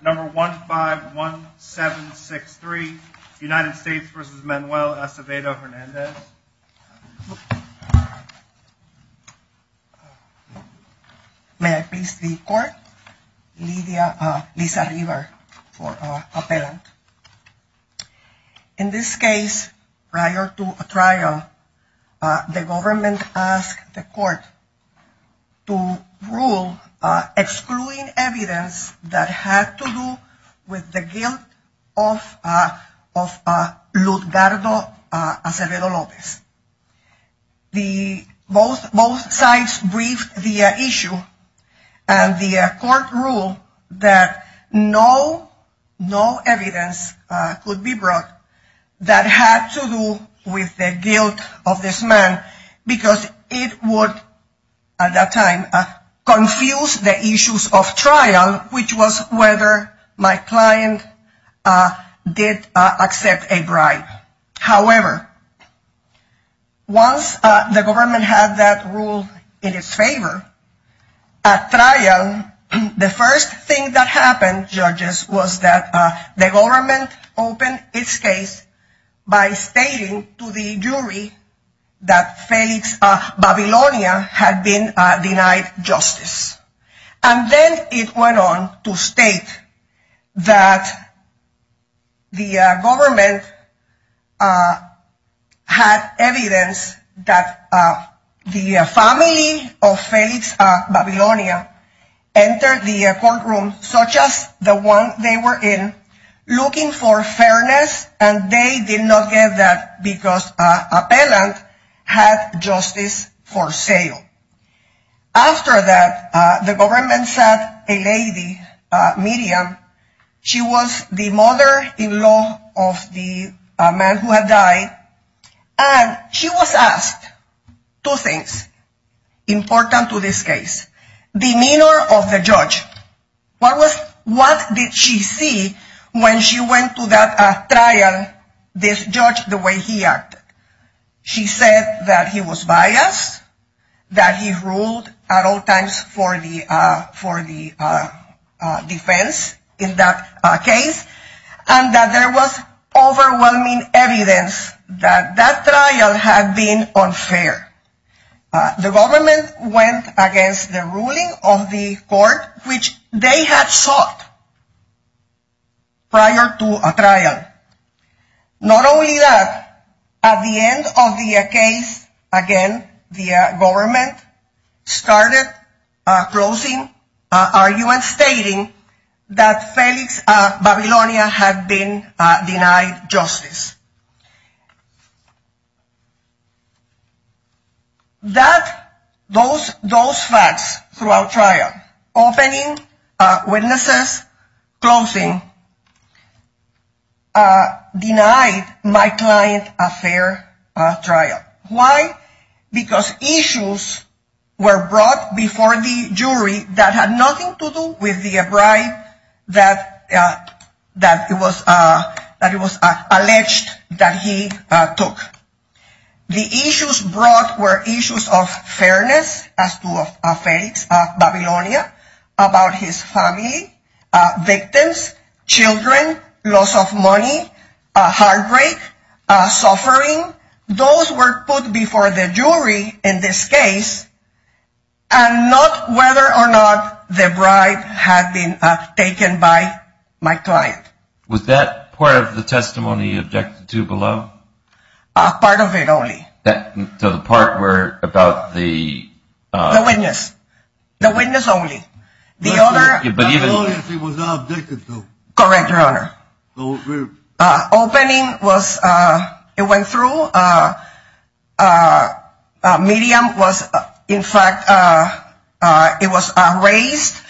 Number 151763, United States v. Manuel Acevedo-Hernandez May I please the court? Liza River for appellant In this case, prior to a trial, the government asked the court to rule excluding evidence that had to do with the guilt of Luzgardo Acevedo-Lopez. Both sides briefed the issue and the court ruled that no evidence could be brought that had to do with the guilt of this man because it would, at that time, confuse the issues of trial, which was whether my client did accept a bribe. However, once the government had that rule in its favor, at trial, the first thing that happened, judges, was that the government opened its case by stating to the jury that Felix Babilonia had been denied justice. And then it went on to state that the government had evidence that the family of Felix Babilonia entered the courtroom, such as the one they were in, looking for fairness, and they did not get that because appellant had justice for sale. After that, the government sent a lady, Miriam, she was the mother-in-law of the man who had died, and she was asked two things important to this case. Demeanor of the judge. What did she see when she went to that trial, this judge, the way he acted? She said that he was biased, that he ruled at all times for the defense in that case, and that there was overwhelming evidence that that trial had been unfair. The government went against the ruling of the court, which they had sought prior to a trial. Not only that, at the end of the case, again, the government started closing, arguing, stating that Felix Babilonia had been denied justice. Those facts throughout trial, opening, witnesses, closing, denied my client a fair trial. Why? Because issues were brought before the jury that had nothing to do with the bribe that it was alleged that he took. The issues brought were issues of fairness, as to Felix Babilonia, about his family, victims, children, loss of money, heartbreak, suffering. Those were put before the jury in this case, and not whether or not the bribe had been taken by my client. Was that part of the testimony you objected to below? Part of it only. So the part about the... The witness. The witness only. Babilonia, she was not objected to. Correct, Your Honor. Opening was, it went through. Medium was, in fact, it was erased.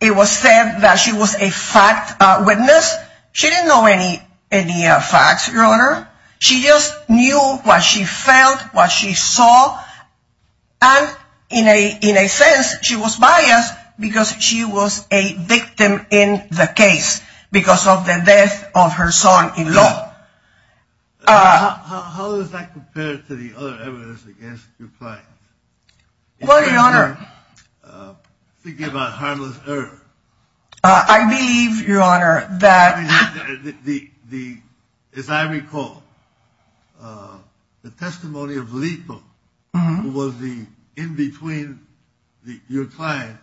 It was said that she was a fact witness. She didn't know any facts, Your Honor. She just knew what she felt, what she saw, and in a sense, she was biased because she was a victim in the case because of the death of her son-in-law. How does that compare to the other evidence against your client? What, Your Honor? Thinking about harmless error. I believe, Your Honor, that... As I recall, the testimony of Lito, who was in between your client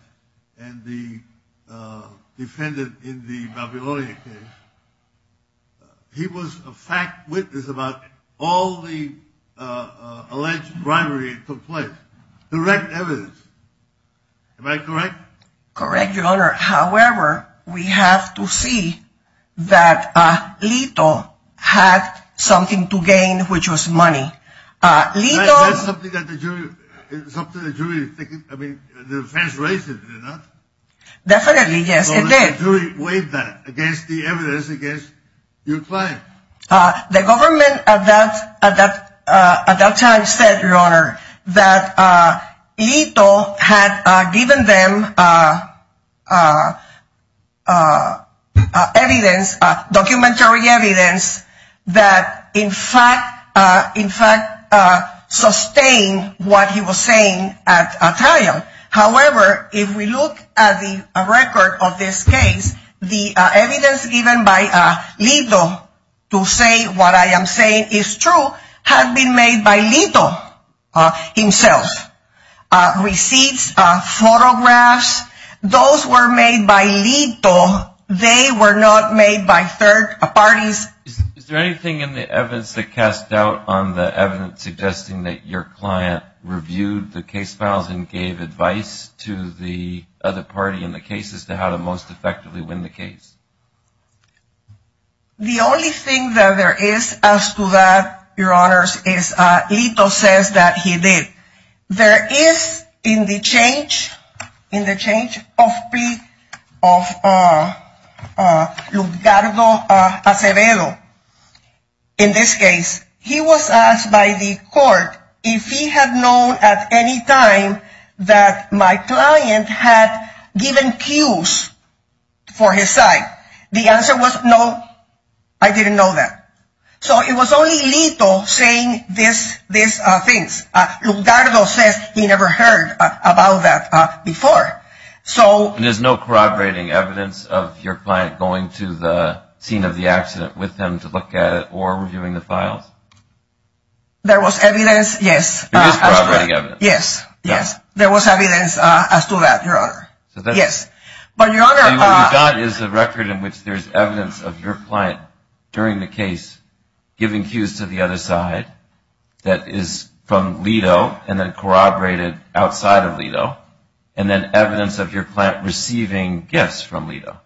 and the defendant in the Babilonia case, he was a fact witness about all the alleged bribery that took place. Direct evidence. Am I correct? Correct, Your Honor. However, we have to see that Lito had something to gain, which was money. That's something that the jury, I mean, the defense raised it, did it not? Definitely, yes, it did. So the jury weighed that against the evidence against your client. The government at that time said, Your Honor, that Lito had given them documentary evidence that in fact sustained what he was saying at trial. However, if we look at the record of this case, the evidence given by Lito to say what I am saying is true had been made by Lito himself. Receipts, photographs, those were made by Lito. They were not made by third parties. Is there anything in the evidence that casts doubt on the evidence suggesting that your client reviewed the case files and gave advice to the other party in the case as to how to most effectively win the case? The only thing that there is as to that, Your Honor, is Lito says that he did. There is in the change of Lugardo Acevedo, in this case, he was asked by the court if he had known at any time that my client had given cues for his side. The answer was no, I didn't know that. So it was only Lito saying these things. Lugardo says he never heard about that before. There is no corroborating evidence of your client going to the scene of the accident with him to look at it or reviewing the files? There was evidence, yes. There is corroborating evidence. Yes, there was evidence as to that, Your Honor. And what you got is a record in which there is evidence of your client during the case giving cues to the other side that is from Lito and then corroborated outside of Lito and then evidence of your client receiving gifts from Lito.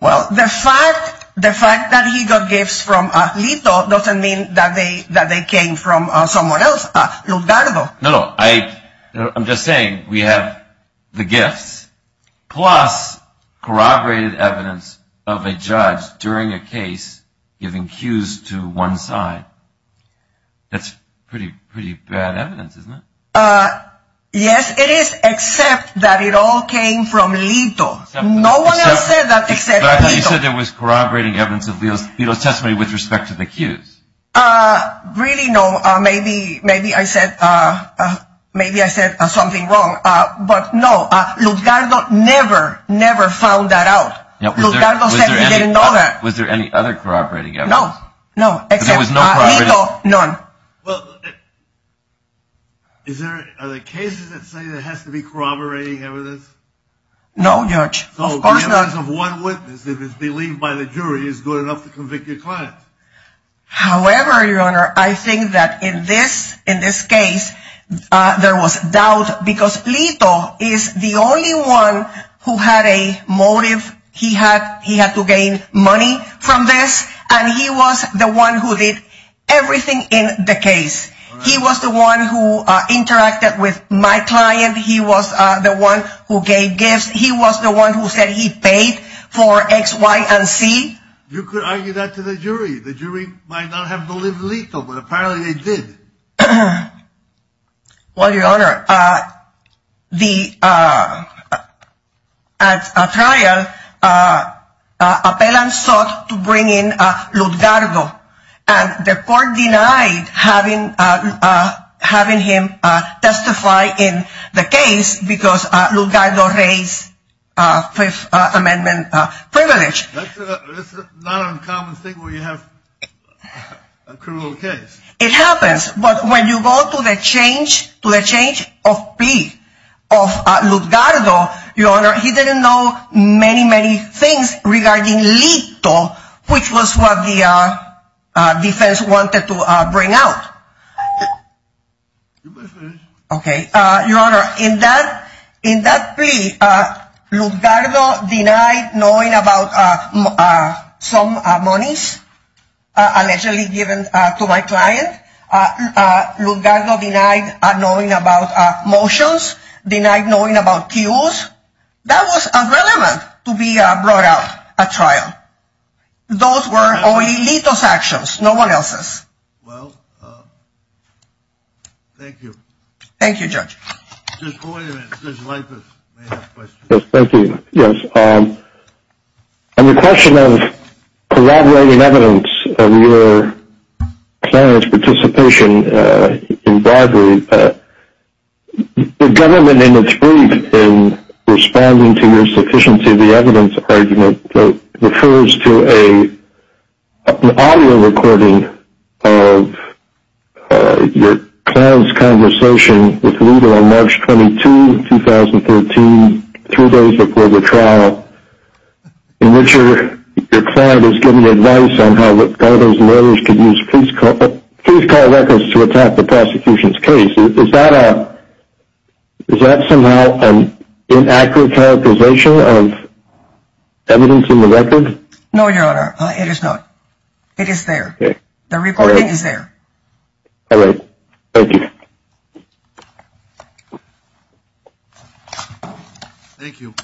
Well, the fact that he got gifts from Lito doesn't mean that they came from someone else, Lugardo. No, no. I'm just saying we have the gifts plus corroborated evidence of a judge during a case giving cues to one side. That's pretty bad evidence, isn't it? Yes, it is, except that it all came from Lito. No one else said that except Lito. But you said there was corroborating evidence of Lito's testimony with respect to the cues. Really, no. Maybe I said something wrong, but no. Lugardo never, never found that out. Lugardo said he didn't know that. Was there any other corroborating evidence? No, no. Except Lito, none. Well, are there cases that say there has to be corroborating evidence? No, Judge. Of course not. So the evidence of one witness that is believed by the jury is good enough to convict your client? However, Your Honor, I think that in this case there was doubt because Lito is the only one who had a motive. He had to gain money from this, and he was the one who did everything in the case. He was the one who interacted with my client. He was the one who gave gifts. He was the one who said he paid for X, Y, and Z. You could argue that to the jury. The jury might not have believed Lito, but apparently they did. Well, Your Honor, at trial, appellants sought to bring in Lugardo, and the court denied having him testify in the case because Lugardo raised Fifth Amendment privilege. That's not an uncommon thing where you have a criminal case. It happens, but when you go to the change of plea of Lugardo, Your Honor, he didn't know many, many things regarding Lito, which was what the defense wanted to bring out. You may finish. Okay, Your Honor, in that plea, Lugardo denied knowing about some monies allegedly given to my client. Lugardo denied knowing about motions, denied knowing about cues. That was irrelevant to be brought out at trial. Those were only Lito's actions, no one else's. Well, thank you. Thank you, Judge. Just wait a minute. Judge Leipitz may have questions. Yes, thank you. Yes. On the question of corroborating evidence of your client's participation in bribery, the government in its brief in responding to your sufficiency of the evidence argument refers to an audio recording of your client's conversation with Lito on March 22, 2013, two days before the trial, in which your client is giving advice on how Lugardo's lawyers could use police car records to attack the prosecution's case. Is that somehow an inaccurate characterization of evidence in the record? No, Your Honor, it is not. It is there. The recording is there. All right. Thank you. Thank you.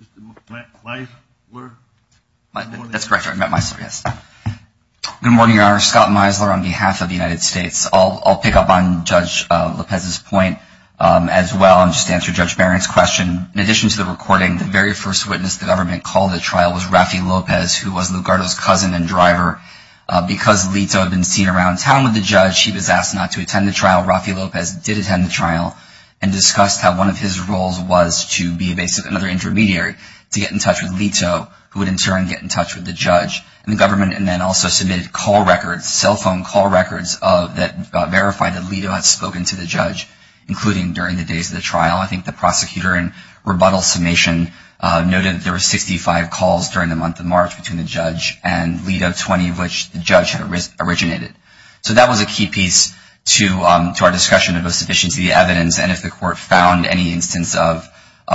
Mr. Meisler. That's correct. I meant myself, yes. Good morning, Your Honor. Scott Meisler on behalf of the United States. I'll pick up on Judge Lopez's point as well and just answer Judge Barron's question. In addition to the recording, the very first witness the government called at trial was Rafi Lopez, who was Lugardo's cousin and driver. Because Lito had been seen around town with the judge, he was asked not to attend the trial. Rafi Lopez did attend the trial and discussed how one of his roles was to be basically another intermediary to get in touch with Lito, who would in turn get in touch with the judge and the government, and then also submitted call records, cell phone call records, that verified that Lito had spoken to the judge, including during the days of the trial. I think the prosecutor in rebuttal summation noted that there were 65 calls during the month of March between the judge and Lito, 20 of which the judge had originated. So that was a key piece to our discussion of the sufficiency of the evidence, and if the court found any instance of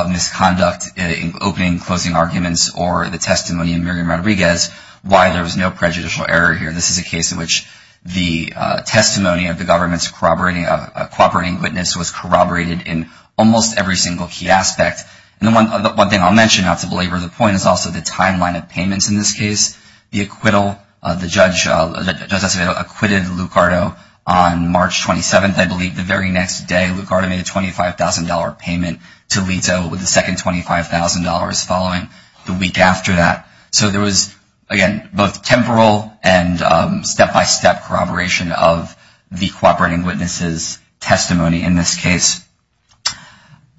misconduct in opening and closing arguments or the testimony of Miriam Rodriguez, why there was no prejudicial error here. This is a case in which the testimony of the government's cooperating witness was corroborated in almost every single key aspect. And one thing I'll mention, not to belabor the point, is also the timeline of payments in this case. The acquittal, the judge acquitted Lucardo on March 27th, I believe, the very next day. Lucardo made a $25,000 payment to Lito with the second $25,000 following the week after that. So there was, again, both temporal and step-by-step corroboration of the cooperating witness's testimony in this case.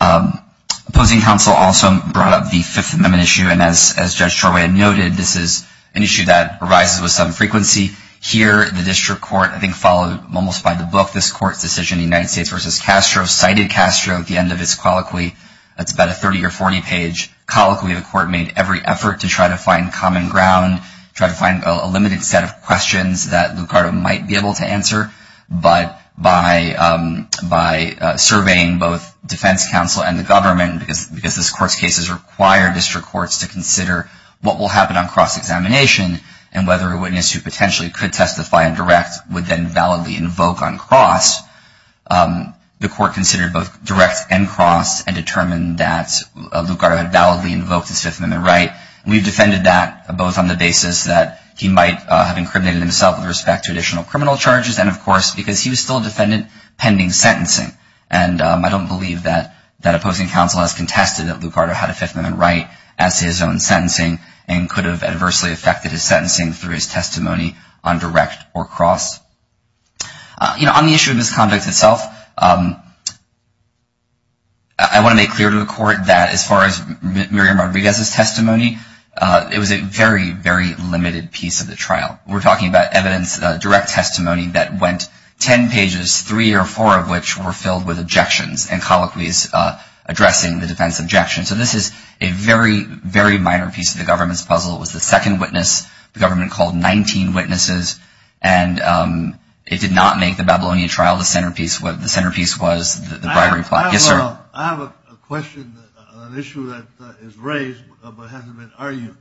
Opposing counsel also brought up the Fifth Amendment issue. And as Judge Torway noted, this is an issue that arises with some frequency. Here, the district court, I think, followed almost by the book, this court's decision, United States v. Castro, cited Castro at the end of his colloquy. That's about a 30 or 40-page colloquy. The court made every effort to try to find common ground, try to find a limited set of questions that Lucardo might be able to answer. But by surveying both defense counsel and the government, because this court's cases require district courts to consider what will happen on cross-examination and whether a witness who potentially could testify indirect would then validly invoke on cross, the court considered both direct and cross and determined that Lucardo had validly invoked his Fifth Amendment right. We defended that both on the basis that he might have incriminated himself with respect to additional criminal charges and, of course, because he was still a defendant pending sentencing. And I don't believe that opposing counsel has contested that Lucardo had a Fifth Amendment right as his own sentencing and could have adversely affected his sentencing through his testimony on direct or cross. On the issue of misconduct itself, I want to make clear to the court that as far as Miriam Rodriguez's testimony, it was a very, very limited piece of the trial. We're talking about evidence, direct testimony that went 10 pages, three or four of which were filled with objections and colloquies addressing the defense objection. So this is a very, very minor piece of the government's puzzle. It was the second witness, the government called 19 witnesses, and it did not make the Babylonian trial the centerpiece. The centerpiece was the bribery plot. Yes, sir. I have a question, an issue that is raised but hasn't been argued.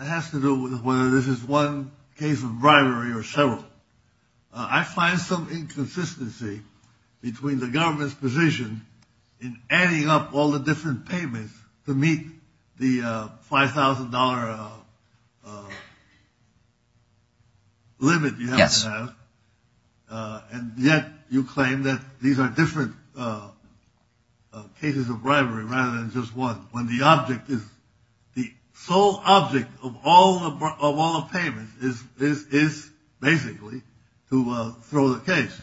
It has to do with whether this is one case of bribery or several. I find some inconsistency between the government's position in adding up all the different payments to meet the $5,000 limit. Yes. And yet you claim that these are different cases of bribery rather than just one when the object is the sole object of all the payments is basically to throw the case.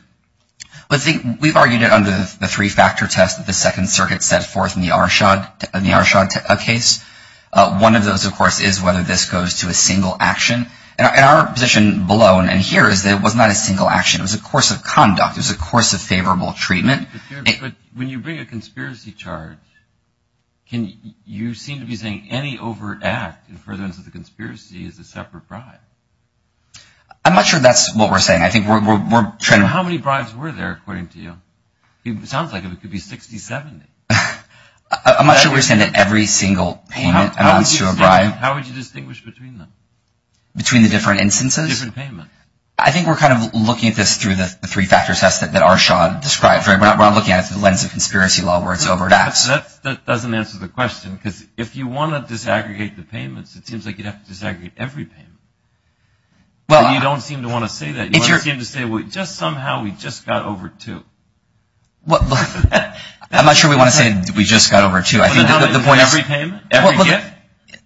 We've argued it under the three-factor test that the Second Circuit set forth in the Arshad case. One of those, of course, is whether this goes to a single action. And our position below and in here is that it was not a single action. It was a course of conduct. It was a course of favorable treatment. But when you bring a conspiracy charge, you seem to be saying any overact in furtherance of the conspiracy is a separate bribe. I'm not sure that's what we're saying. How many bribes were there, according to you? It sounds like it could be 60, 70. I'm not sure we're saying that every single payment amounts to a bribe. How would you distinguish between them? Between the different instances? Different payment. I think we're kind of looking at this through the three-factor test that Arshad described. We're not looking at it through the lens of conspiracy law where it's overacts. That doesn't answer the question. Because if you want to disaggregate the payments, it seems like you'd have to disaggregate every payment. But you don't seem to want to say that. You don't seem to say, well, just somehow we just got over two. I'm not sure we want to say we just got over two. Every payment?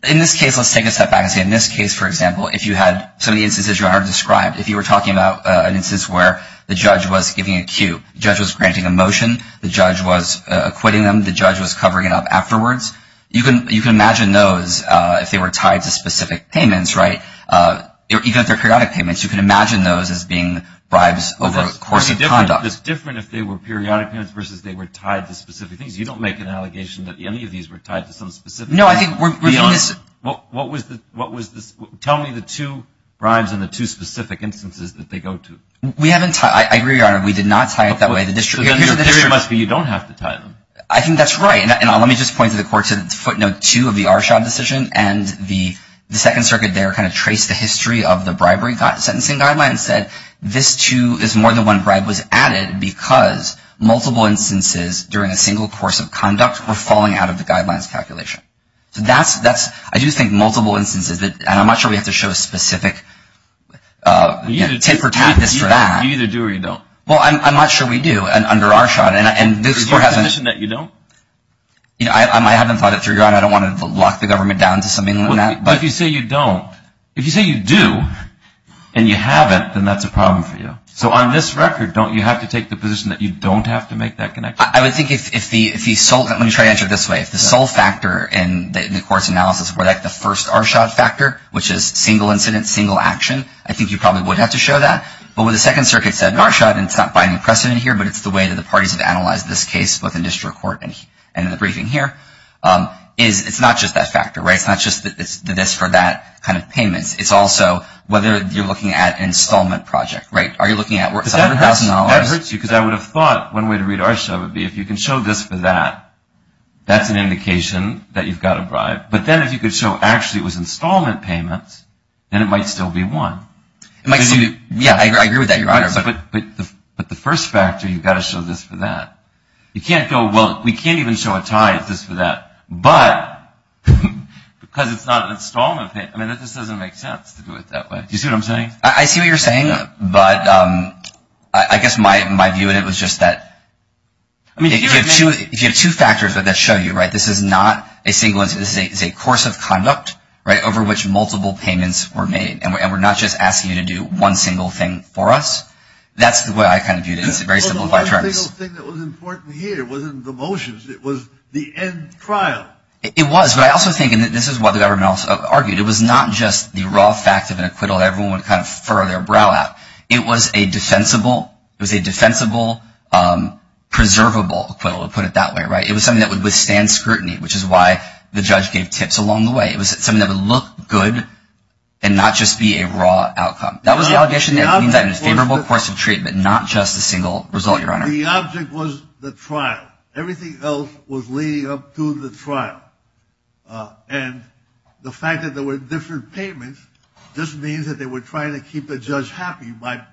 In this case, let's take a step back and say in this case, for example, if you had some of the instances you already described, if you were talking about an instance where the judge was giving a cue, the judge was granting a motion, the judge was acquitting them, the judge was covering it up afterwards, you can imagine those if they were tied to specific payments, right? Even if they're periodic payments, you can imagine those as being bribes over a course of conduct. It's different if they were periodic payments versus if they were tied to specific things. You don't make an allegation that any of these were tied to some specific thing. No, I think we're doing this. What was this? Tell me the two bribes and the two specific instances that they go to. I agree, Your Honor. We did not tie it that way. You don't have to tie them. I think that's right. And let me just point to the court's footnote two of the Arshad decision. And the Second Circuit there kind of traced the history of the bribery sentencing guideline and said this too is more than one bribe was added because multiple instances during a single course of conduct were falling out of the guidelines calculation. So that's, I do think multiple instances, and I'm not sure we have to show a specific tip or tactics for that. You either do or you don't. Well, I'm not sure we do under Arshad. Do you recognize that you don't? I haven't thought it through, Your Honor. I don't want to lock the government down to something like that. But if you say you don't, if you say you do and you haven't, then that's a problem for you. So on this record, don't you have to take the position that you don't have to make that connection? I would think if the sole, let me try to answer it this way. If the sole factor in the court's analysis were like the first Arshad factor, which is single incident, single action, I think you probably would have to show that. But what the Second Circuit said in Arshad, and it's not binding precedent here, but it's the way that the parties have analyzed this case both in district court and in the briefing here, is it's not just that factor, right? It's not just the this for that kind of payments. It's also whether you're looking at an installment project, right? You're looking at where it's $100,000. That hurts you because I would have thought one way to read Arshad would be if you can show this for that, that's an indication that you've got a bribe. But then if you could show actually it was installment payments, then it might still be one. It might still be, yeah, I agree with that, Your Honor. But the first factor, you've got to show this for that. You can't go, well, we can't even show a tie, it's this for that. But because it's not an installment payment, Do you see what I'm saying? I see what you're saying, but I guess my view in it was just that, if you have two factors that show you, right, this is not a single, this is a course of conduct, right, over which multiple payments were made. And we're not just asking you to do one single thing for us. That's the way I kind of viewed it. It's a very simplified term. The only thing that was important here wasn't the motions, it was the end trial. It was, but I also think, and this is what the government also argued, it was not just the raw fact of an acquittal that everyone would kind of furrow their brow at. It was a defensible, it was a defensible, preservable acquittal, to put it that way, right? It was something that would withstand scrutiny, which is why the judge gave tips along the way. It was something that would look good and not just be a raw outcome. That was the allegation that it was a favorable course of treatment, not just a single result, Your Honor. The object was the trial. Everything else was leading up to the trial. And the fact that there were different payments just means that they were trying to keep the judge happy by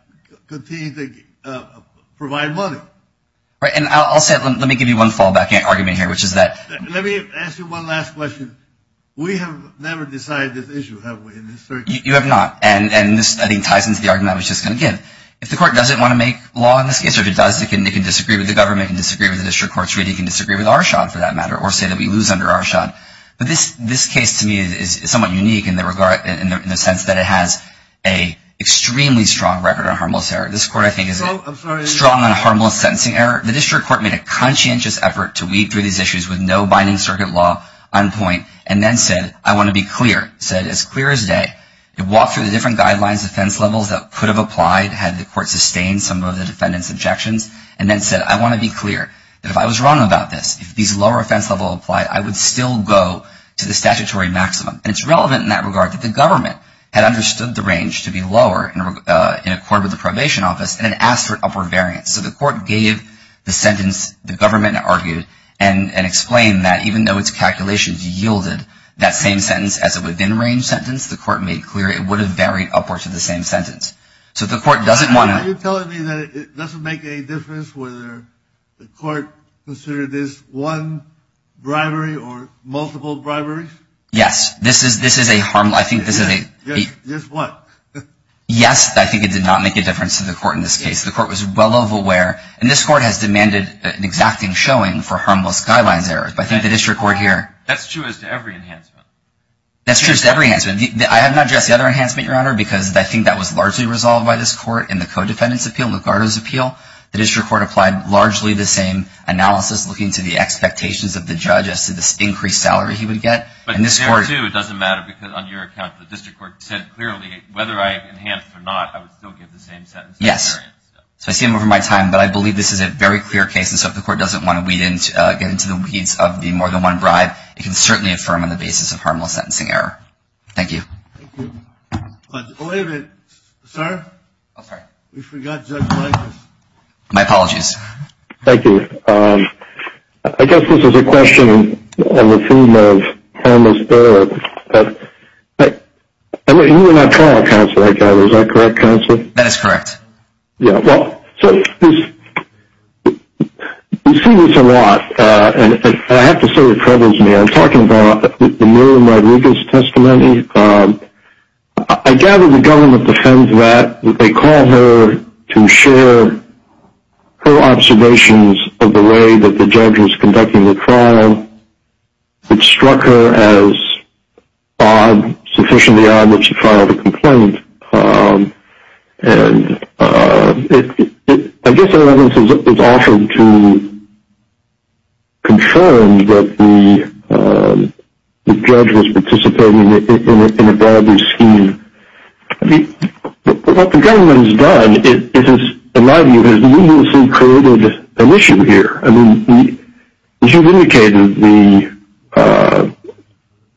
continuing to provide money. Right, and I'll say it. Let me give you one fallback argument here, which is that... Let me ask you one last question. We have never decided this issue, have we, in this circuit? You have not, and this, I think, ties into the argument I was just going to give. If the court doesn't want to make law in this case, or if it does, it can disagree with the government, it can disagree with the district courts, it can disagree with Arshad, for that matter, or say that we lose under Arshad. But this case, to me, is somewhat unique in the sense that it has an extremely strong record on harmless error. This court, I think, is strong on harmless sentencing error. The district court made a conscientious effort to weed through these issues with no binding circuit law on point and then said, I want to be clear. It said, as clear as day. It walked through the different guidelines, defense levels that could have applied had the court sustained some of the defendant's objections and then said, I want to be clear that if I was wrong about this, I would go to the statutory maximum. And it's relevant in that regard that the government had understood the range to be lower in accord with the probation office and it asked for an upper variance. So the court gave the sentence, the government argued and explained that even though its calculations yielded that same sentence as a within-range sentence, the court made clear it would have varied upwards to the same sentence. So the court doesn't want to... Are you telling me that it doesn't make any difference whether the court considered this one bribery or multiple briberies? Yes, this is a harmless... Yes, what? Yes, I think it did not make a difference to the court in this case. The court was well aware, and this court has demanded an exacting showing for harmless guidelines errors, but I think the district court here... That's true as to every enhancement. That's true as to every enhancement. I have not addressed the other enhancement, Your Honor, because I think that was largely resolved by this court in the co-defendant's appeal, Lugardo's appeal. I think that was largely resolved by this increased salary he would get. But there too, it doesn't matter, because on your account, the district court said clearly whether I enhanced or not, I would still give the same sentence. Yes, so I see him over my time, but I believe this is a very clear case, and so if the court doesn't want to get into the weeds of the more than one bribe, it can certainly affirm on the basis of harmless sentencing error. Thank you. Wait a minute, sir. On the theme of harmless error, you were not trial counsel, I gather. Is that correct, counsel? That is correct. Yeah, well, you see this a lot, and I have to say it troubles me. I'm talking about the Marilyn Rodriguez testimony. I gather the government defends that. They call her to share her observations is conducting the trial. They call her to share her observations of the way that the judge is conducting the trial. It struck her as odd, sufficiently odd, that she filed a complaint, and I guess, in other words, it's often too confirmed that the judge was participating in a bribery scheme. I mean, what the government has done is, in my view, has numerously created an issue here. I mean, as you've indicated, the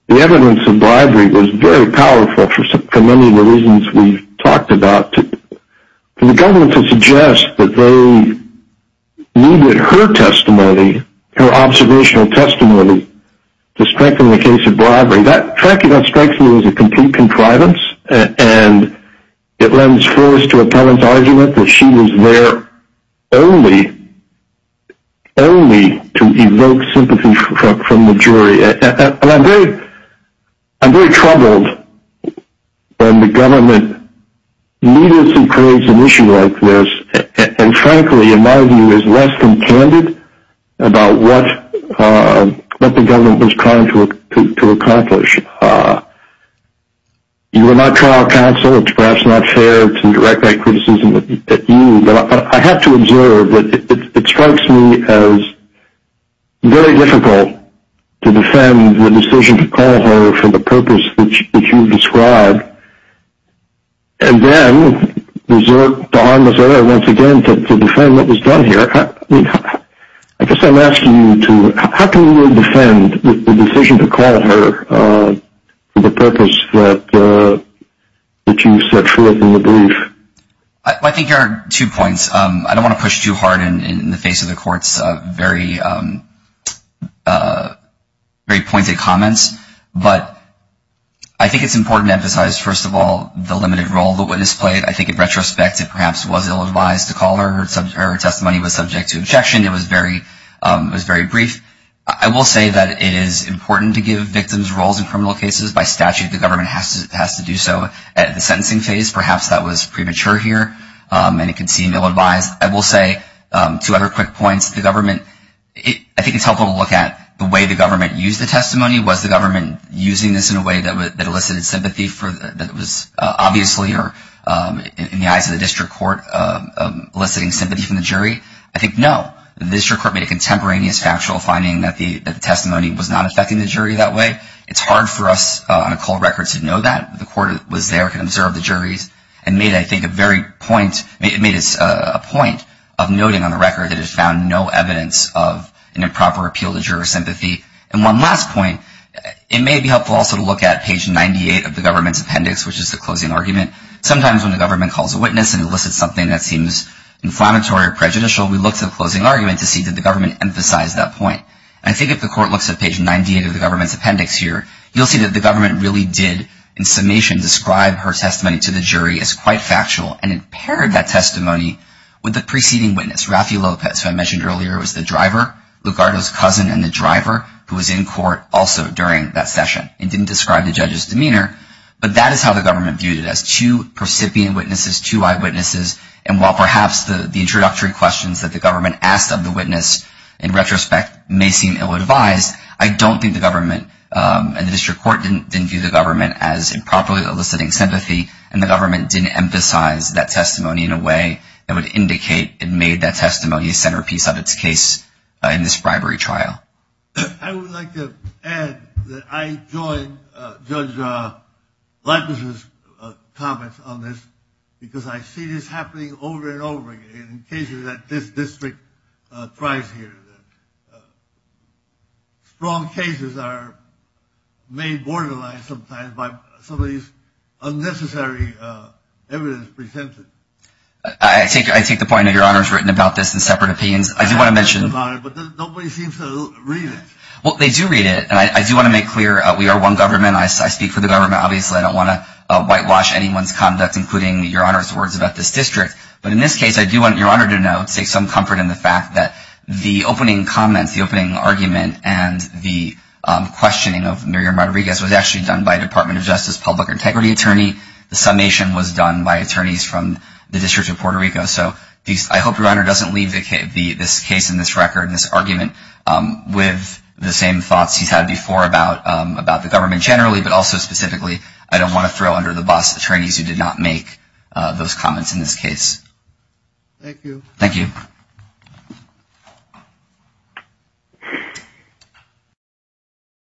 evidence of bribery was very powerful for many of the reasons we've talked about. For the government to suggest that they needed her testimony, her observational testimony, to strengthen the case of bribery, that, frankly, that strikes me as a complete contrivance, and it lends force to a parent's argument that she was their only, only to evoke sympathy from the jury. And I'm very, I'm very troubled when the government needlessly creates an issue like this, and frankly, in my view, is less than candid about what the government was trying to accomplish. You were not trial counsel. It's perhaps not fair to direct that criticism at you, but I have to observe that it strikes me as very difficult to defend the decision to call her for the purpose that you've described, and then to harm Missouri once again to defend what was done here. I guess I'm asking you to, how can you defend the decision to call her for the purpose that you've set forth in the brief? I think there are two points. I don't want to push too hard in the face of the court's very, very pointed comments, but I think it's important to emphasize, first of all, the limited role the witness played. I think in retrospect, it perhaps was ill-advised to call her. Her testimony was subject to objection. It was very brief. I will say that it is important to give victims roles in criminal cases. By statute, the government has to do so. At the sentencing phase, perhaps that was premature here, and it can seem ill-advised. I will say, two other quick points. The government, I think it's helpful to look at the way the government used the testimony. Was the government using this in a way that elicited sympathy that was obviously, in the eyes of the district court, eliciting sympathy from the jury? I think no. The district court made a contemporaneous factual finding that the testimony was not affecting the jury that way. It's hard for us on a cold record to know that. The court was there, could observe the juries, and made, I think, a very point, made a point of noting on the record that it found no evidence of an improper appeal to juror sympathy. And one last point. It may be helpful also to look at page 98 of the government's appendix, which is the closing argument. Sometimes when the government calls a witness and elicits something that seems inflammatory or prejudicial, we look to the closing argument to see did the government emphasize that point. I think if the court looks at page 98 of the government's appendix here, you'll see that the government really did, in summation, describe her testimony to the jury as quite factual and it paired that testimony with the preceding witness, Raffi Lopez, who I mentioned earlier was the driver, Lugardo's cousin and the driver who was in court also during that session and didn't describe the judge's demeanor. But that is how the government viewed it as two recipient witnesses, two eyewitnesses, and while perhaps the introductory questions that the government asked of the witness in retrospect may seem ill-advised, I don't think the government and the district court didn't view the government as improperly eliciting sympathy and the government didn't emphasize that testimony in a way that would indicate it made that testimony a centerpiece of its case in this bribery trial. I would like to add that I joined Judge Leibniz's comments on this because I see this happening over and over again and occasionally that this district thrives here. Strong cases are made borderline sometimes by some of these unnecessary evidence presented. I take the point that Your Honor's written about this in separate opinions. I do want to mention Nobody seems to read it. Well, they do read it and I do want to make clear we are one government and I speak for the government obviously I don't want to whitewash anyone's conduct including Your Honor's words about this district. But in this case I do want Your Honor to know to take some comfort in the fact that the opening comment the opening argument and the questioning of Muriel Rodriguez was actually done by Department of Justice Public Integrity Attorney. The summation was done by attorneys from the District of Puerto Rico. So I hope Your Honor doesn't leave this case and this record and this argument with the same thoughts he's had before about the government generally but also specifically I don't want to throw under the bus attorneys who did not make those comments in this case. Thank you. Thank you. Thank you.